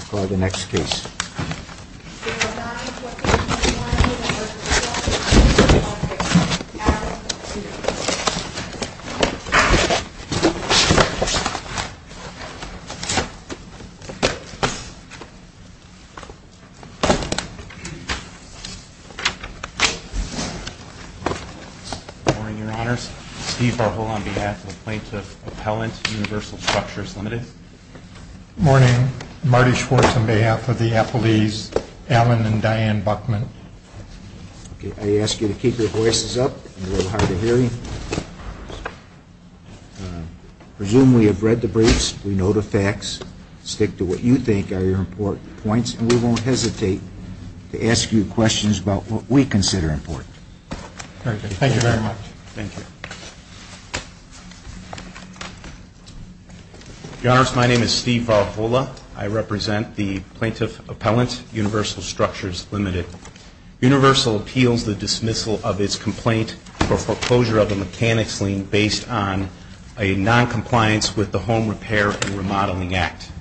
for the next case. Good morning, Your Honors. Steve Farhol on behalf of the Plaintiff Appellant, Universal Structures Limited. Good morning. Marty Schwartz on behalf of the appellees, Alan and Diane Buchman. I ask you to keep your voices up. It's a little hard to hear you. I presume we have read the briefs, we know the facts, stick to what you think are your important points, and we won't hesitate to ask you questions about what we consider important. Thank you very much. Thank you. Your Honors, my name is Steve Farhol. I represent the Plaintiff Appellant, Universal Structures Limited. Universal appeals the dismissal of its complaint for foreclosure of a mechanics lien based on a noncompliance with the Home Repair and Remodeling Act.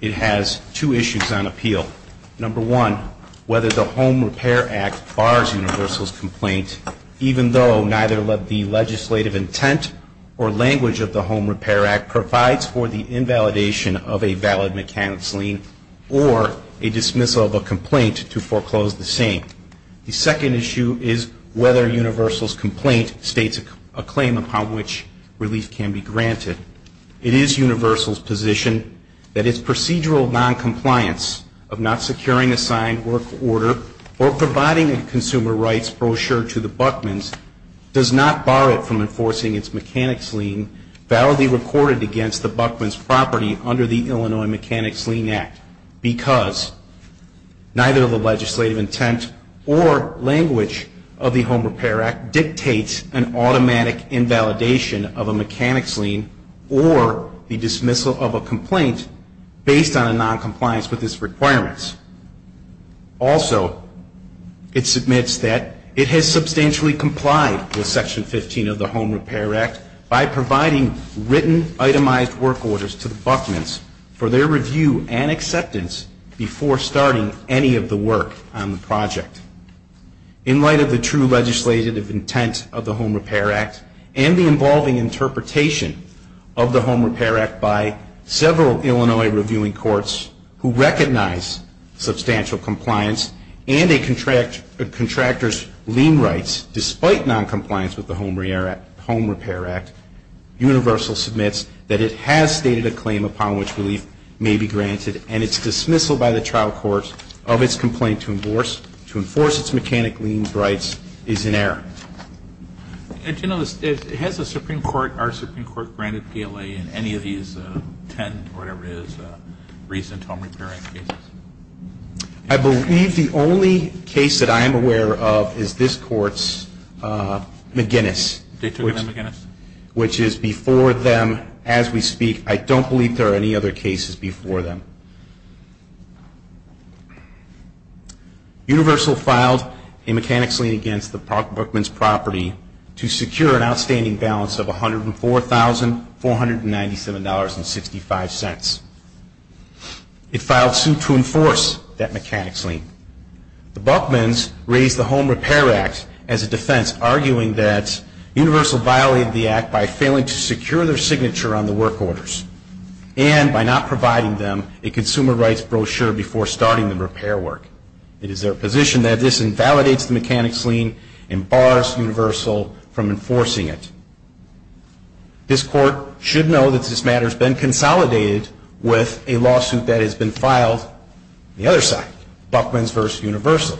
It has two issues on appeal. Number one, whether the Home Repair Act bars Universal's complaint, even though neither the legislative intent or language of the Home Repair Act provides for the invalidation of a valid mechanics lien or a dismissal of a complaint to foreclose the same. The second issue is whether Universal's complaint states a claim upon which relief can be granted. It is Universal's position that its procedural noncompliance of not securing a signed work order or providing a consumer rights brochure to the Buckman's does not bar it from enforcing its mechanics lien validly recorded against the Buckman's property under the Illinois Mechanics Lien Act because neither the legislative intent or language of the Home Repair Act dictates an automatic invalidation of a mechanics lien or the dismissal of a complaint based on a noncompliance with its requirements. Also, it submits that it has substantially complied with Section 15 of the Home Repair Act by providing written itemized work orders to the Buckman's for their review and acceptance before starting any of the work on the project. In light of the true legislative intent of the Home Repair Act and the involving interpretation of the Home Repair Act by several Illinois reviewing courts who recognize substantial compliance and a contractor's lien rights despite noncompliance with the Home Repair Act, Universal submits that it has stated a claim upon which relief may be granted and its dismissal by the trial court of its complaint to enforce its mechanics lien rights is in error. And do you know, has the Supreme Court, our Supreme Court, granted PLA in any of these 10, whatever it is, recent Home Repair Act cases? I believe the only case that I am aware of is this Court's McGinnis. They took it in McGinnis? Which is before them as we speak. I don't believe there are any other cases before them. Universal filed a mechanics lien against the Buckman's property to secure an outstanding balance of $104,497.65. It filed suit to enforce that mechanics lien. The Buckman's raised the Home Repair Act as a defense, arguing that Universal violated the Act by failing to secure their signature on the work orders and by not providing them a consumer rights brochure before starting the repair work. It is their position that this invalidates the mechanics lien and bars Universal from enforcing it. This Court should know that this matter has been consolidated with a lawsuit that has been filed on the other side. Buckman's v. Universal.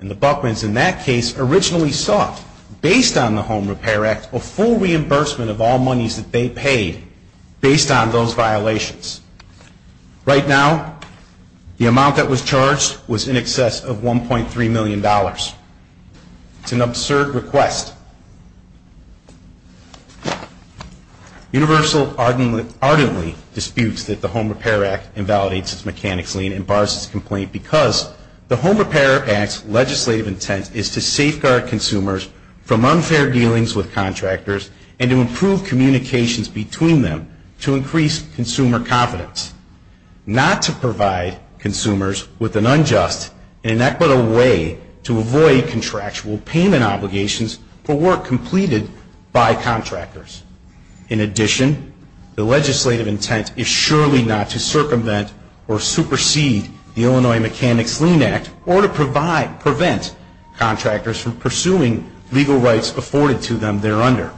And the Buckman's in that case originally sought, based on the Home Repair Act, a full reimbursement of all monies that they paid based on those violations. Right now, the amount that was charged was in excess of $1.3 million. It's an absurd request. Universal ardently disputes that the Home Repair Act invalidates its mechanics lien and bars its complaint because the Home Repair Act's legislative intent is to safeguard consumers from unfair dealings with contractors and to improve communications between them to increase consumer confidence. Not to provide consumers with an unjust and inequitable way to avoid contractual payment obligations for work completed by contractors. In addition, the legislative intent is surely not to circumvent or supersede the Illinois Mechanics Lien Act or to prevent contractors from pursuing legal rights afforded to them thereunder.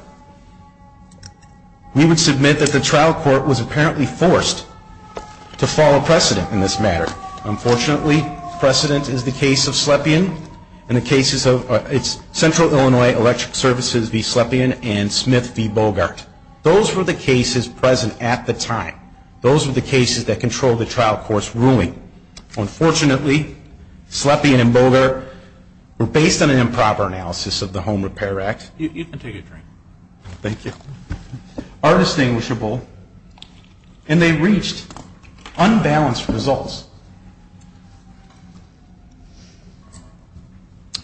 We would submit that the trial court was apparently forced to follow precedent in this matter. Unfortunately, precedent is the case of Central Illinois Electric Services v. Slepian and Smith v. Bogart. Those were the cases present at the time. Those were the cases that controlled the trial court's ruling. Unfortunately, Slepian and Bogart were based on an improper analysis of the Home Repair Act. You can take a drink. Thank you. Are distinguishable and they reached unbalanced results.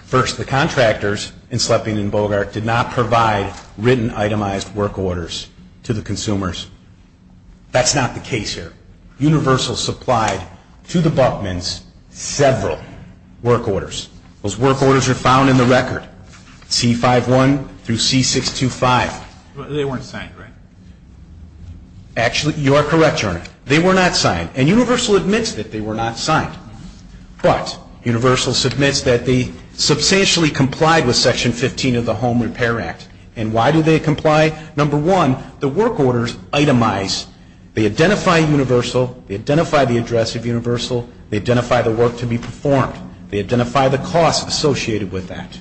First, the contractors in Slepian and Bogart did not provide written itemized work orders to the consumers. That's not the case here. Universal supplied to the Buckmans several work orders. Those work orders are found in the record, C-51 through C-625. They weren't signed, right? Actually, you are correct, Your Honor. They were not signed. And Universal admits that they were not signed. But Universal submits that they substantially complied with Section 15 of the Home Repair Act. And why do they comply? Number one, the work orders itemize. They identify Universal. They identify the address of Universal. They identify the work to be performed. They identify the costs associated with that.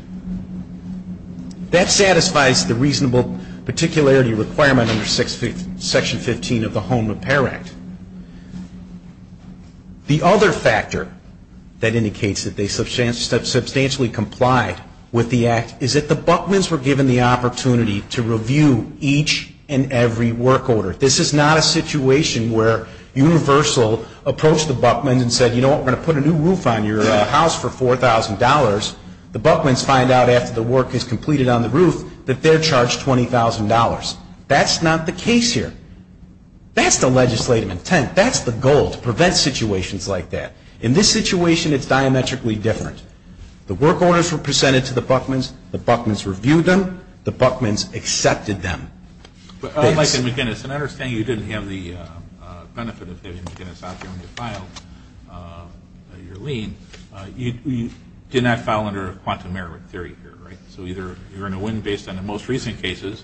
That satisfies the reasonable particularity requirement under Section 15 of the Home Repair Act. The other factor that indicates that they substantially complied with the Act is that the Buckmans were given the opportunity to review each and every work order. This is not a situation where Universal approached the Buckmans and said, you know what, we're going to put a new roof on your house for $4,000. The Buckmans find out after the work is completed on the roof that they're charged $20,000. That's not the case here. That's the legislative intent. That's the goal, to prevent situations like that. In this situation, it's diametrically different. The work orders were presented to the Buckmans. The Buckmans reviewed them. The Buckmans accepted them. Like in McGinnis. And I understand you didn't have the benefit of having McGinnis out there when you filed your lien. You did not file under a quantum Merowit theory here, right? So either you're going to win based on the most recent cases,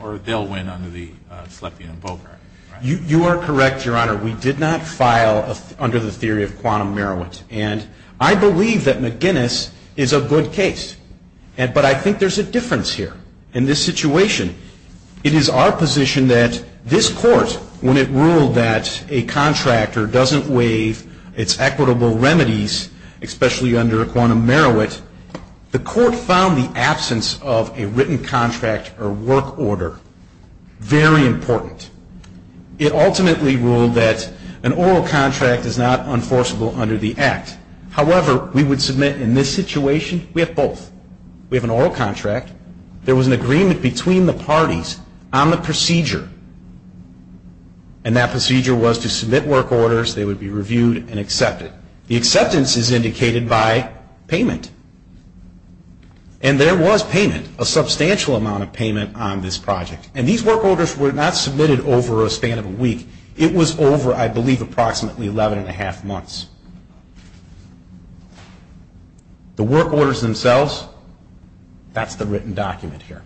or they'll win under the Slepian and Bogart. You are correct, Your Honor. We did not file under the theory of quantum Merowit. And I believe that McGinnis is a good case. But I think there's a difference here in this situation. It is our position that this Court, when it ruled that a contractor doesn't waive its equitable remedies, especially under quantum Merowit, the Court found the absence of a written contract or work order very important. It ultimately ruled that an oral contract is not enforceable under the Act. However, we would submit in this situation, we have both. We have an oral contract. There was an agreement between the parties on the procedure. And that procedure was to submit work orders. They would be reviewed and accepted. The acceptance is indicated by payment. And there was payment, a substantial amount of payment on this project. And these work orders were not submitted over a span of a week. It was over, I believe, approximately 11 and a half months. The work orders themselves, that's the written document here.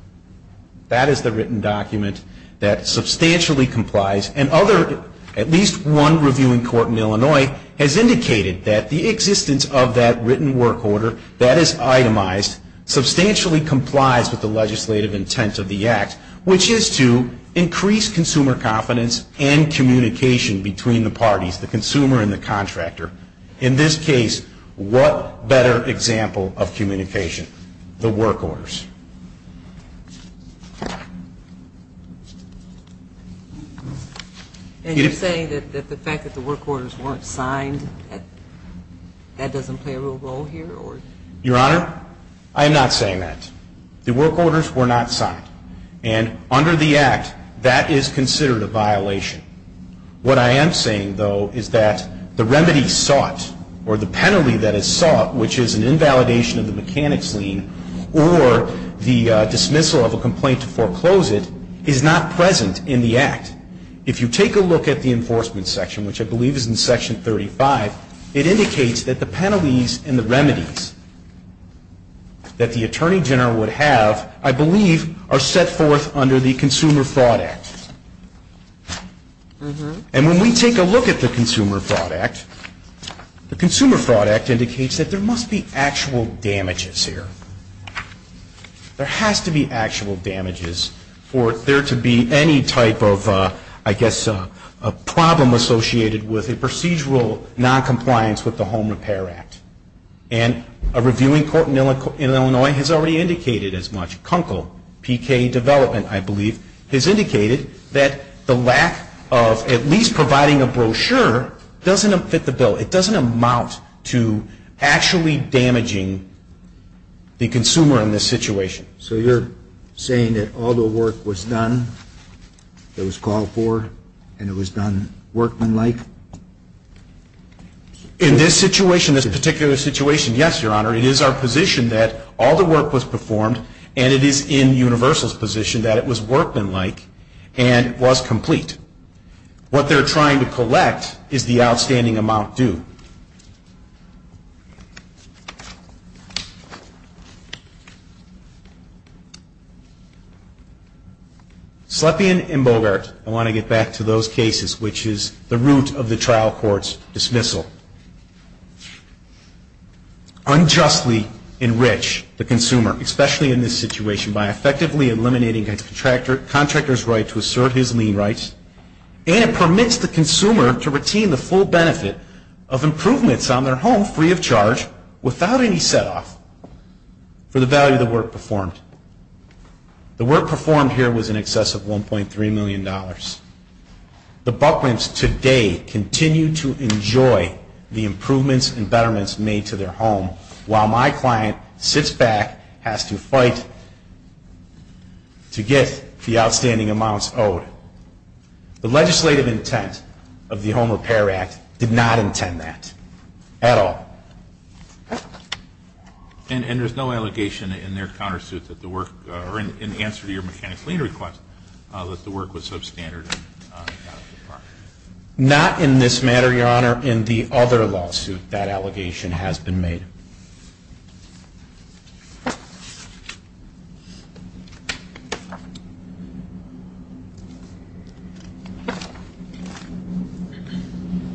That is the written document that substantially complies. And at least one reviewing court in Illinois has indicated that the existence of that written work order, that is itemized, substantially complies with the legislative intent of the Act, which is to increase consumer confidence and communication between the parties, the consumer and the contractor. In this case, what better example of communication? The work orders. And you're saying that the fact that the work orders weren't signed, that doesn't play a real role here? Your Honor, I am not saying that. The work orders were not signed. And under the Act, that is considered a violation. What I am saying, though, is that the remedy sought or the penalty that is sought, which is an invalidation of the mechanics lien or the dismissal of a complaint to foreclose it, is not present in the Act. If you take a look at the enforcement section, which I believe is in Section 35, it indicates that the penalties and the remedies that the attorney general would have, I believe, are set forth under the Consumer Fraud Act. And when we take a look at the Consumer Fraud Act, the Consumer Fraud Act indicates that there must be actual damages here. There has to be actual damages for there to be any type of, I guess, a problem associated with a procedural noncompliance with the Home Repair Act. And a reviewing court in Illinois has already indicated as much. Kunkel P.K. Development, I believe, has indicated that the lack of at least providing a brochure doesn't fit the bill. It doesn't amount to actually damaging the consumer in this situation. So you're saying that all the work was done, it was called for, and it was done workmanlike? In this situation, this particular situation, yes, Your Honor. It is our position that all the work was performed, and it is in Universal's position that it was workmanlike and was complete. What they're trying to collect is the outstanding amount due. Slepian and Bogart, I want to get back to those cases, which is the root of the trial court's dismissal, unjustly enrich the consumer, especially in this situation, by effectively eliminating a contractor's right to assert his lien rights. And it permits the consumer to retain the full benefit of improvements on their home free of charge without any set off for the value of the work performed. The work performed here was in excess of $1.3 million. The Buckrams today continue to enjoy the improvements and betterments made to their home while my client sits back, has to fight to get the outstanding amounts owed. The legislative intent of the Home Repair Act did not intend that at all. And there's no allegation in their countersuit that the work, or in answer to your mechanic's lien request, that the work was substandard? Not in this matter, Your Honor. In the other lawsuit, that allegation has been made.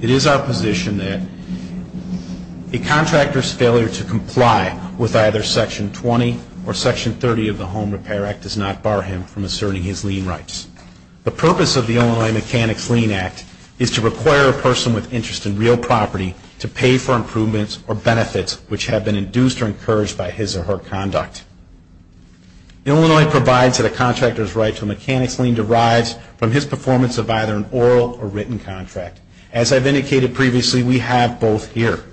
It is our position that a contractor's failure to comply with either Section 20 or Section 30 of the Home Repair Act does not bar him from asserting his lien rights. The purpose of the Illinois Mechanic's Lien Act is to require a person with interest in real property to pay for improvements or benefits which have been induced or encouraged by his or her conduct. Illinois provides that a contractor's right to a mechanic's lien derives from his performance of either an oral or written contract. As I've indicated previously, we have both here.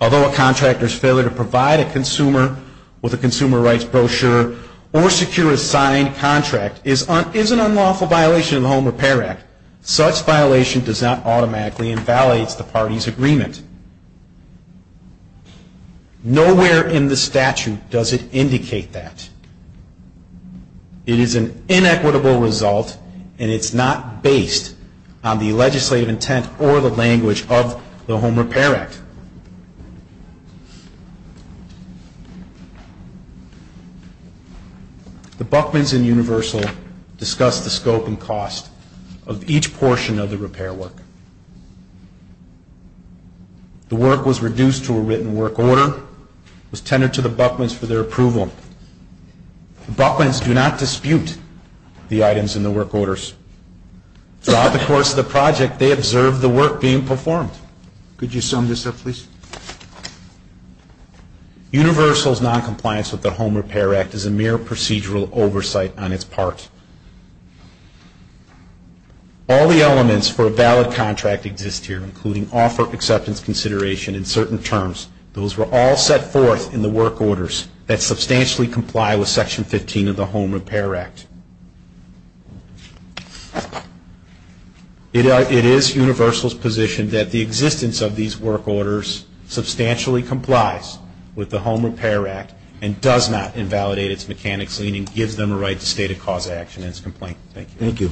Although a contractor's failure to provide a consumer with a consumer rights brochure or secure a signed contract is an unlawful violation of the Home Repair Act, such violation does not automatically invalidate the party's agreement. Nowhere in the statute does it indicate that. It is an inequitable result and it's not based on the legislative intent or the language of the Home Repair Act. The Buchmans and Universal discuss the scope and cost of each portion of the repair work. The work was reduced to a written work order, was tendered to the Buchmans for their approval. The Buchmans do not dispute the items in the work orders. Throughout the course of the project, they observed the work being performed. Could you sum this up, please? Universal's noncompliance with the Home Repair Act is a mere procedural oversight on its part. All the elements for a valid contract exist here, including offer acceptance consideration in certain terms. Those were all set forth in the work orders that substantially comply with Section 15 of the Home Repair Act. It is Universal's position that the existence of these work orders substantially complies with the Home Repair Act and does not invalidate its mechanic's liening, gives them a right to state a cause of action in its complaint. Thank you. Thank you.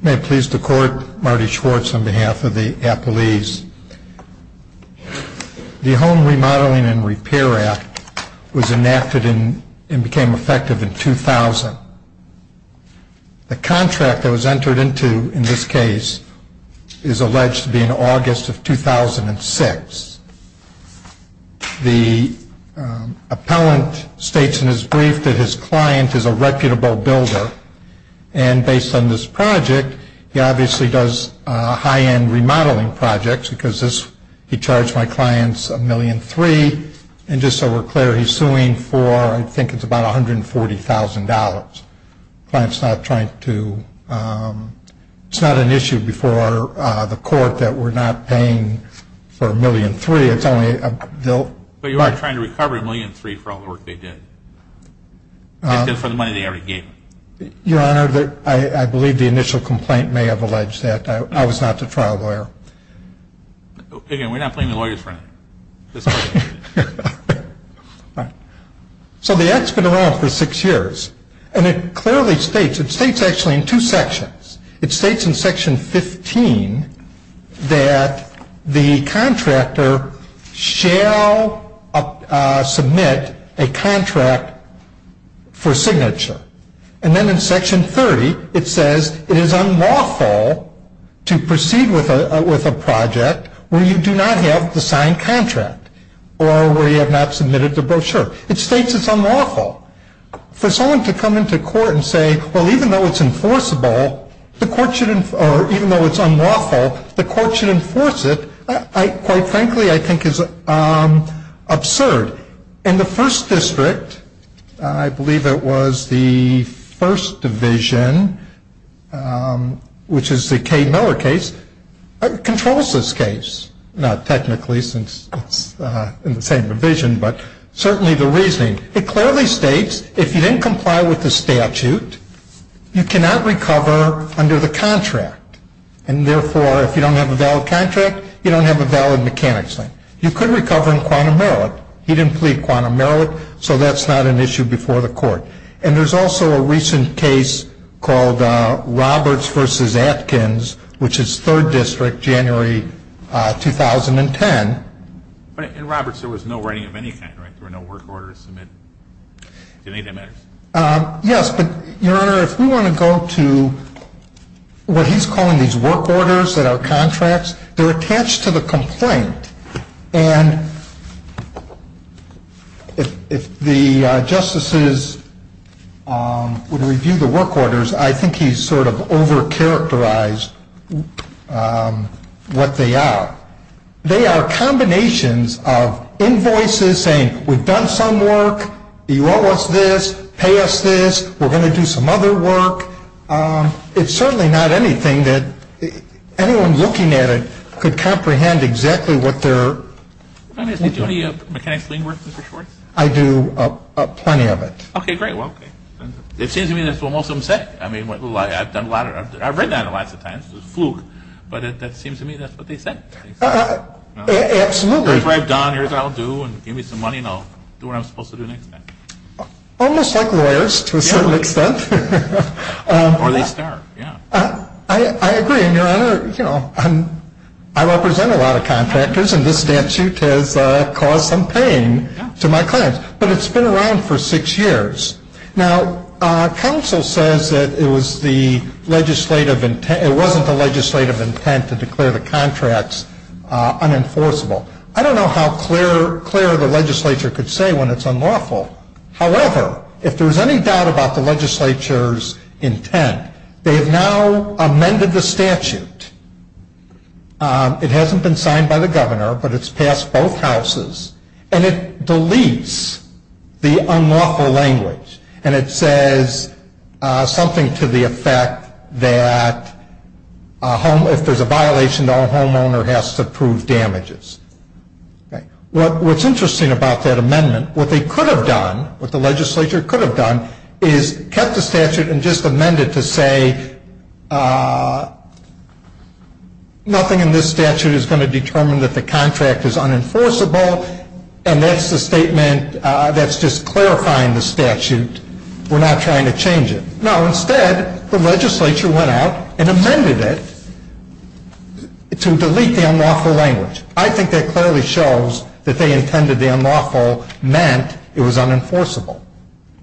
May it please the Court, Marty Schwartz on behalf of the appellees. The Home Remodeling and Repair Act was enacted and became effective in 2000. The contract that was entered into in this case is alleged to be in August of 2006. The appellant states in his brief that his client is a reputable builder. And based on this project, he obviously does high-end remodeling projects because he charged my clients $1.3 million. And just so we're clear, he's suing for I think it's about $140,000. The client's not trying to, it's not an issue before the court that we're not paying for $1.3 million. It's only a bill. But you are trying to recover $1.3 million for all the work they did. Just for the money they already gave. Your Honor, I believe the initial complaint may have alleged that. I was not the trial lawyer. Again, we're not playing the lawyer's friend. All right. So the Act's been around for six years. And it clearly states, it states actually in two sections. It states in Section 15 that the contractor shall submit a contract for signature. And then in Section 30, it says it is unlawful to proceed with a project where you do not have the signed contract. Or where you have not submitted the brochure. It states it's unlawful. For someone to come into court and say, well, even though it's enforceable, the court should, or even though it's unlawful, the court should enforce it, quite frankly, I think is absurd. And the First District, I believe it was the First Division, which is the Kay Miller case, controls this case. Not technically, since it's in the same division, but certainly the reasoning. It clearly states if you didn't comply with the statute, you cannot recover under the contract. And therefore, if you don't have a valid contract, you don't have a valid mechanics claim. You could recover in quantum merit. He didn't plead quantum merit, so that's not an issue before the court. And there's also a recent case called Roberts v. Atkins, which is Third District, January 2010. In Roberts, there was no writing of any kind, right? There were no work orders to submit. Do you think that matters? Yes, but, Your Honor, if we want to go to what he's calling these work orders that are contracts, they're attached to the complaint. And if the justices would review the work orders, I think he's sort of overcharacterized what they are. They are combinations of invoices saying we've done some work, you owe us this, pay us this, we're going to do some other work. It's certainly not anything that anyone looking at it could comprehend exactly what they're... Do you do any mechanics claim work, Mr. Schwartz? I do plenty of it. Okay, great. Well, it seems to me that's what most of them say. I mean, I've written on it lots of times, it's a fluke, but it seems to me that's what they said. Absolutely. Here's what I've done, here's what I'll do, and give me some money and I'll do what I'm supposed to do next time. Almost like lawyers to a certain extent. Or they start, yeah. I agree, and, Your Honor, I represent a lot of contractors, and this statute has caused some pain to my clients. But it's been around for six years. Now, counsel says that it was the legislative intent, it wasn't the legislative intent to declare the contracts unenforceable. I don't know how clear the legislature could say when it's unlawful. However, if there's any doubt about the legislature's intent, they have now amended the statute. It hasn't been signed by the governor, but it's passed both houses, and it deletes the unlawful language. And it says something to the effect that if there's a violation, the homeowner has to prove damages. What's interesting about that amendment, what they could have done, what the legislature could have done, is kept the statute and just amended to say nothing in this statute is going to determine that the contract is unenforceable, and that's the statement that's just clarifying the statute. We're not trying to change it. No, instead, the legislature went out and amended it to delete the unlawful language. I think that clearly shows that they intended the unlawful meant it was unenforceable.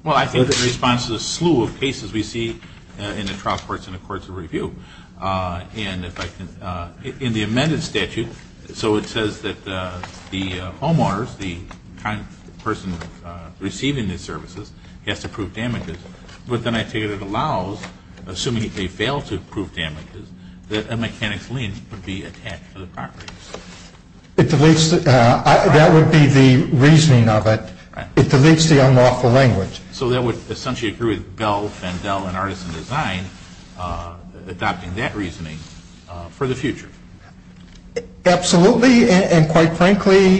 Well, I think the response is a slew of cases we see in the trial courts and the courts of review. And if I can, in the amended statute, so it says that the homeowners, the person receiving the services, has to prove damages. But then I take it it allows, assuming they fail to prove damages, that a mechanic's lien would be attached to the property. It deletes, that would be the reasoning of it. It deletes the unlawful language. So that would essentially agree with Bell, Fandel, and Artisan Design adopting that reasoning for the future. Absolutely. And quite frankly,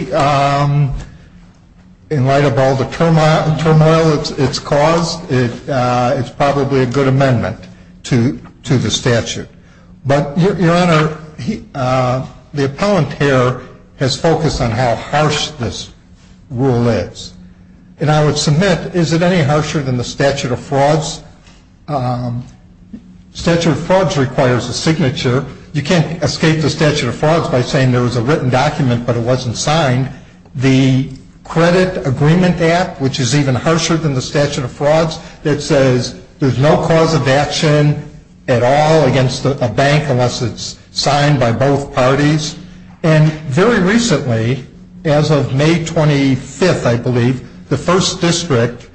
in light of all the turmoil it's caused, it's probably a good amendment to the statute. But, Your Honor, the appellant here has focused on how harsh this rule is. And I would submit, is it any harsher than the statute of frauds? Statute of frauds requires a signature. You can't escape the statute of frauds by saying there was a written document but it wasn't signed. The credit agreement app, which is even harsher than the statute of frauds, that says there's no cause of action at all against a bank unless it's signed by both parties. And very recently, as of May 25th, I believe, the First District,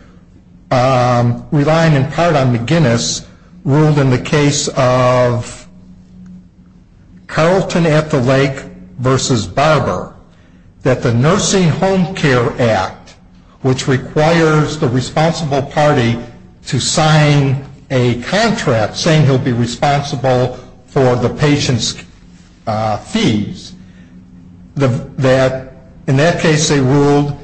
relying in part on McGinnis, ruled in the case of Carlton at the Lake versus Barber, that the Nursing Home Care Act, which requires the responsible party to sign a contract saying he'll be responsible for the patient's fees, that in that case they ruled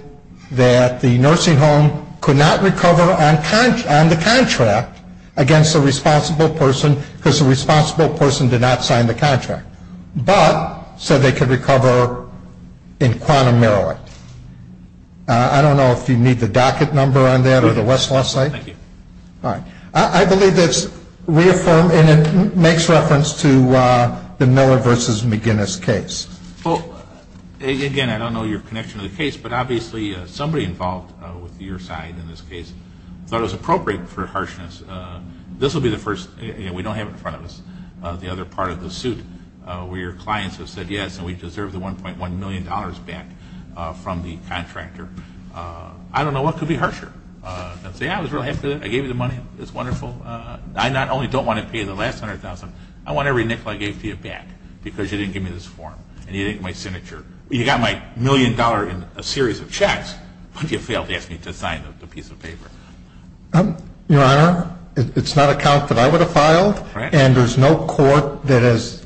that the nursing home could not recover on the contract against the responsible person because the responsible person did not sign the contract. But said they could recover in Quantum, Maryland. I don't know if you need the docket number on that or the Westlaw site. Thank you. All right. I believe that's reaffirmed and it makes reference to the Miller versus McGinnis case. Well, again, I don't know your connection to the case, but obviously somebody involved with your side in this case thought it was appropriate for harshness. This will be the first. We don't have in front of us the other part of the suit where your clients have said yes and we deserve the $1.1 million back from the contractor. I don't know what could be harsher than saying I was really happy that I gave you the money. It's wonderful. I not only don't want to pay the last $100,000, I want every nickel I gave to you back because you didn't give me this form and you didn't give me my signature. You got my million dollar in a series of checks, but you failed to ask me to sign the piece of paper. Your Honor, it's not a count that I would have filed and there's no court that has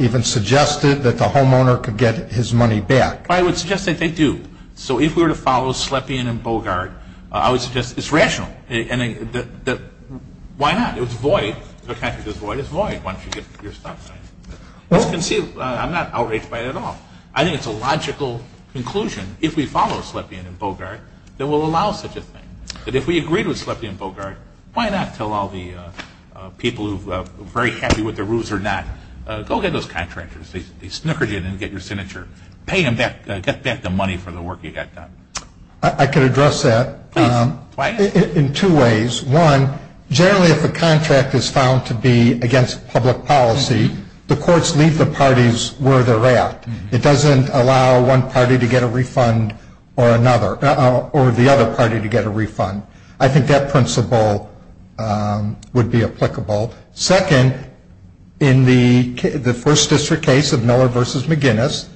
even suggested that the homeowner could get his money back. I would suggest that they do. So if we were to follow Slepian and Bogart, I would suggest it's rational. Why not? It's void. If a contractor says void, it's void once you get your stuff signed. It's conceivable. I'm not outraged by it at all. I think it's a logical conclusion, if we follow Slepian and Bogart, that will allow such a thing. But if we agree with Slepian and Bogart, why not tell all the people who are very happy with the rules or not, go get those contractors. They snookered you and didn't get your signature. Pay them back. Get back the money for the work you got done. I could address that in two ways. One, generally if a contract is found to be against public policy, the courts leave the parties where they're at. It doesn't allow one party to get a refund or the other party to get a refund. I think that principle would be applicable. Second, in the first district case of Miller v. McGinnis,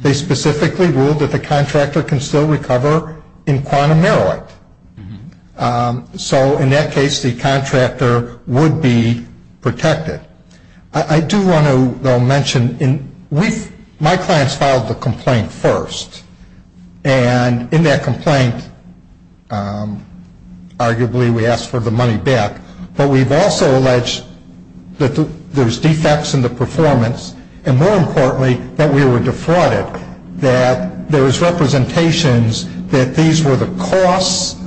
they specifically ruled that the contractor can still recover in quantum meroit. So in that case, the contractor would be protected. I do want to, though, mention, my clients filed the complaint first. And in that complaint, arguably we asked for the money back. But we've also alleged that there's defects in the performance. And more importantly, that we were defrauded. That there was representations that these were the costs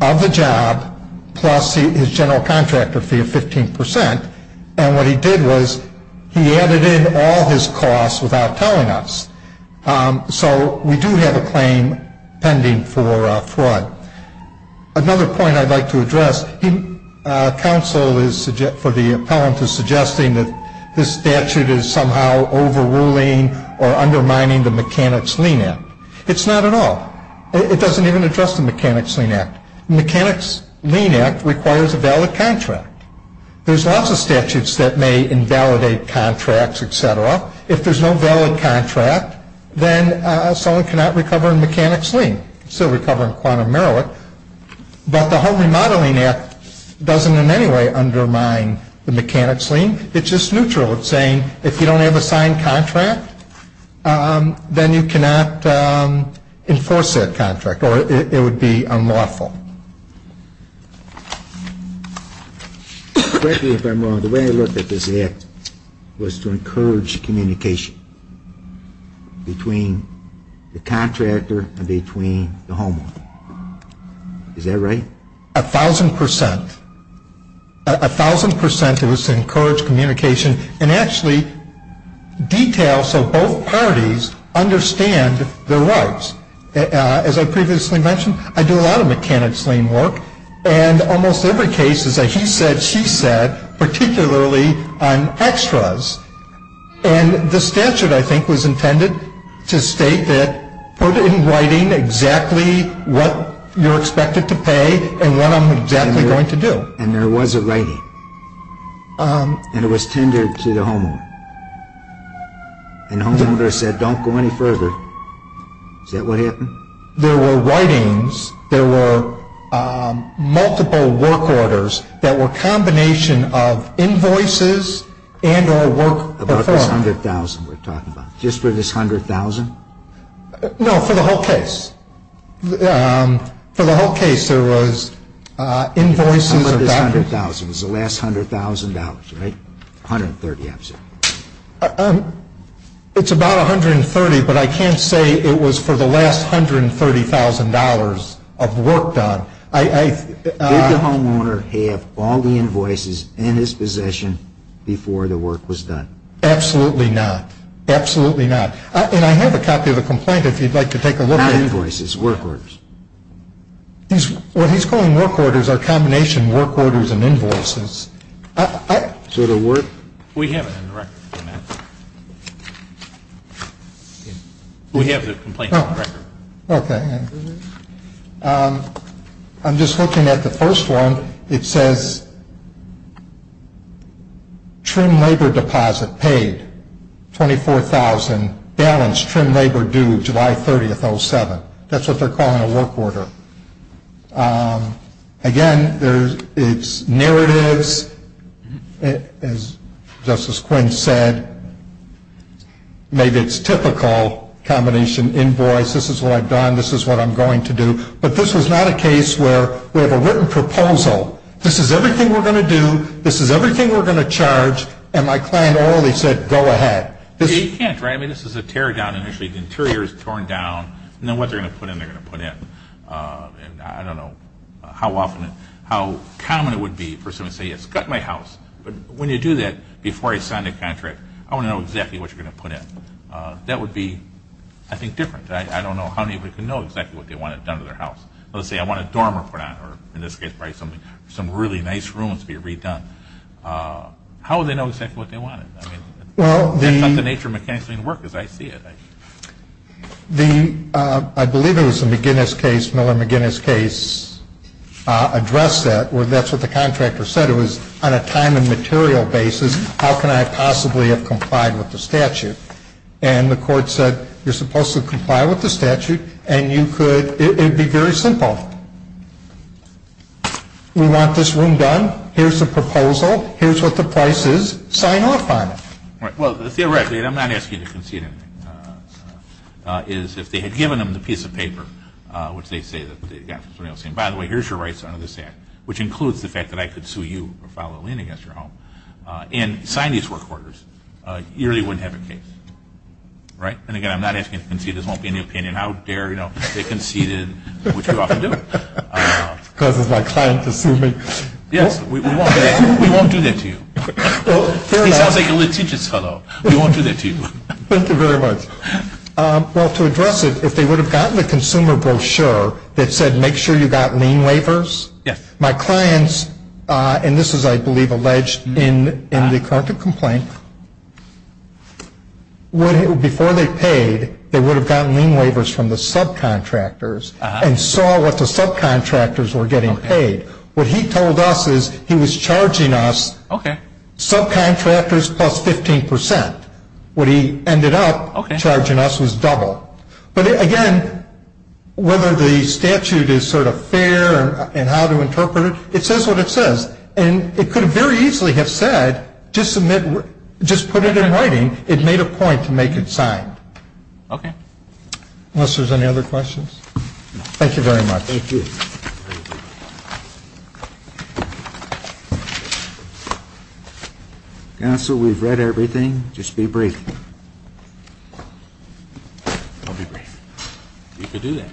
of the job plus his general contractor fee of 15%. And what he did was he added in all his costs without telling us. So we do have a claim pending for fraud. Counsel for the appellant is suggesting that this statute is somehow overruling or undermining the Mechanics-Lean Act. It's not at all. It doesn't even address the Mechanics-Lean Act. The Mechanics-Lean Act requires a valid contract. There's lots of statutes that may invalidate contracts, et cetera. If there's no valid contract, then someone cannot recover in Mechanics-Lean. Still recover in quantum meroit. But the Home Remodeling Act doesn't in any way undermine the Mechanics-Lean. It's just neutral. It's saying if you don't have a signed contract, then you cannot enforce that contract or it would be unlawful. Correct me if I'm wrong. The way I looked at this act was to encourage communication between the contractor and between the homeowner. Is that right? A thousand percent. A thousand percent it was to encourage communication and actually detail so both parties understand their rights. As I previously mentioned, I do a lot of Mechanics-Lean work. And almost every case is a he said, she said, particularly on extras. And the statute, I think, was intended to state that put in writing exactly what you're expected to pay and what I'm exactly going to do. And there was a writing. And it was tendered to the homeowner. And the homeowner said, don't go any further. Is that what happened? There were writings. There were multiple work orders that were a combination of invoices and or work. About this $100,000 we're talking about. Just for this $100,000? No, for the whole case. For the whole case there was invoices. How much is $100,000? It was the last $100,000, right? $130,000. It's about $130,000, but I can't say it was for the last $130,000 of work done. Did the homeowner have all the invoices in his possession before the work was done? Absolutely not. Absolutely not. And I have a copy of the complaint if you'd like to take a look at it. Not invoices, work orders. What he's calling work orders are a combination of work orders and invoices. Is there a word? We have it in the record. We have the complaint on record. Okay. I'm just looking at the first one. It says trim labor deposit paid, $24,000. Balance trim labor due July 30th, 07. That's what they're calling a work order. Again, it's narratives, as Justice Quinn said. Maybe it's typical combination invoice. This is what I've done. This is what I'm going to do. But this was not a case where we have a written proposal. This is everything we're going to do. This is everything we're going to charge. And my client orally said, go ahead. You can't, right? I mean, this is a tear down initially. The interior is torn down. Now what they're going to put in, they're going to put in. And I don't know how often, how common it would be for someone to say, yes, cut my house. But when you do that, before I sign the contract, I want to know exactly what you're going to put in. That would be, I think, different. I don't know how many people can know exactly what they want to have done to their house. Let's say I want a dorm room put on, or in this case probably some really nice rooms to be redone. How would they know exactly what they wanted? Well, the It's not the nature of mechanics doing the work as I see it. The, I believe it was the McGinnis case, Miller-McGinnis case, addressed that. That's what the contractor said. It was on a time and material basis, how can I possibly have complied with the statute? And the court said, you're supposed to comply with the statute, and you could, it would be very simple. We want this room done. Here's the proposal. Here's what the price is. Sign off on it. Well, theoretically, and I'm not asking you to concede anything, is if they had given them the piece of paper, which they say, by the way, here's your rights under this act, which includes the fact that I could sue you or file a lien against your home, and sign these work orders, you really wouldn't have a case. Right? And again, I'm not asking you to concede. This won't be in the opinion. How dare they concede it, which we often do. Causes my client to sue me. Yes, we won't do that to you. He sounds like a litigious fellow. We won't do that to you. Thank you very much. Well, to address it, if they would have gotten the consumer brochure that said, make sure you got lien waivers, my clients, and this is, I believe, alleged in the current complaint, before they paid, they would have gotten lien waivers from the subcontractors and saw what the subcontractors were getting paid. What he told us is he was charging us subcontractors plus 15%. What he ended up charging us was double. But, again, whether the statute is sort of fair and how to interpret it, it says what it says. And it could very easily have said, just submit, just put it in writing, it made a point to make it signed. Okay. Unless there's any other questions. Thank you very much. Thank you. Thank you. Counsel, we've read everything. Just be brief. I'll be brief. You can do that.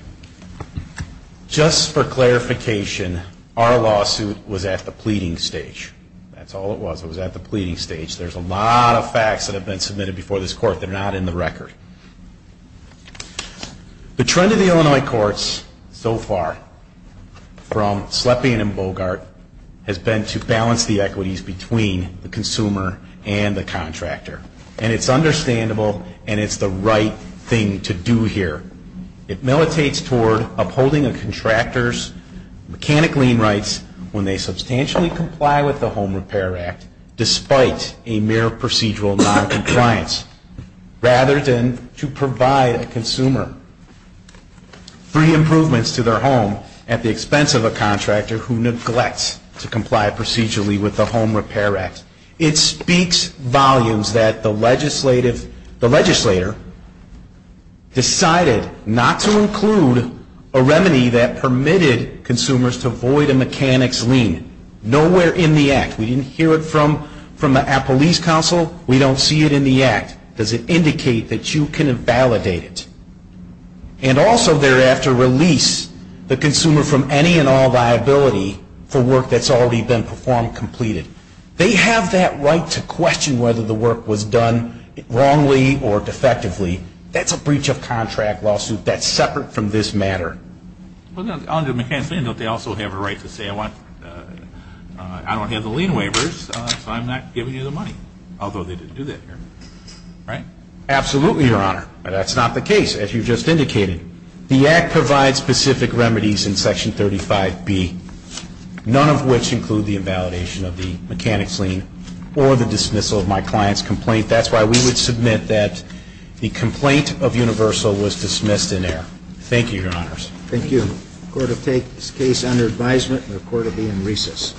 Just for clarification, our lawsuit was at the pleading stage. That's all it was. It was at the pleading stage. There's a lot of facts that have been submitted before this Court that are not in the record. The trend of the Illinois courts so far from Slepian and Bogart has been to balance the equities between the consumer and the contractor. And it's understandable and it's the right thing to do here. It militates toward upholding a contractor's mechanic lien rights when they substantially comply with the Home Repair Act despite a mere procedural noncompliance. Rather than to provide a consumer free improvements to their home at the expense of a contractor who neglects to comply procedurally with the Home Repair Act. It speaks volumes that the legislator decided not to include a remedy that permitted consumers to avoid a mechanic's lien. Nowhere in the Act. We didn't hear it from our police counsel. We don't see it in the Act. Does it indicate that you can invalidate it? And also thereafter release the consumer from any and all liability for work that's already been performed, completed. They have that right to question whether the work was done wrongly or defectively. That's a breach of contract lawsuit. That's separate from this matter. Under mechanic's lien don't they also have a right to say I don't have the lien waivers so I'm not giving you the money. Although they didn't do that here. Right? Absolutely, Your Honor. That's not the case as you just indicated. The Act provides specific remedies in Section 35B. None of which include the invalidation of the mechanic's lien or the dismissal of my client's complaint. Thank you, Your Honors. Thank you. The court will take this case under advisement and the court will be in recess.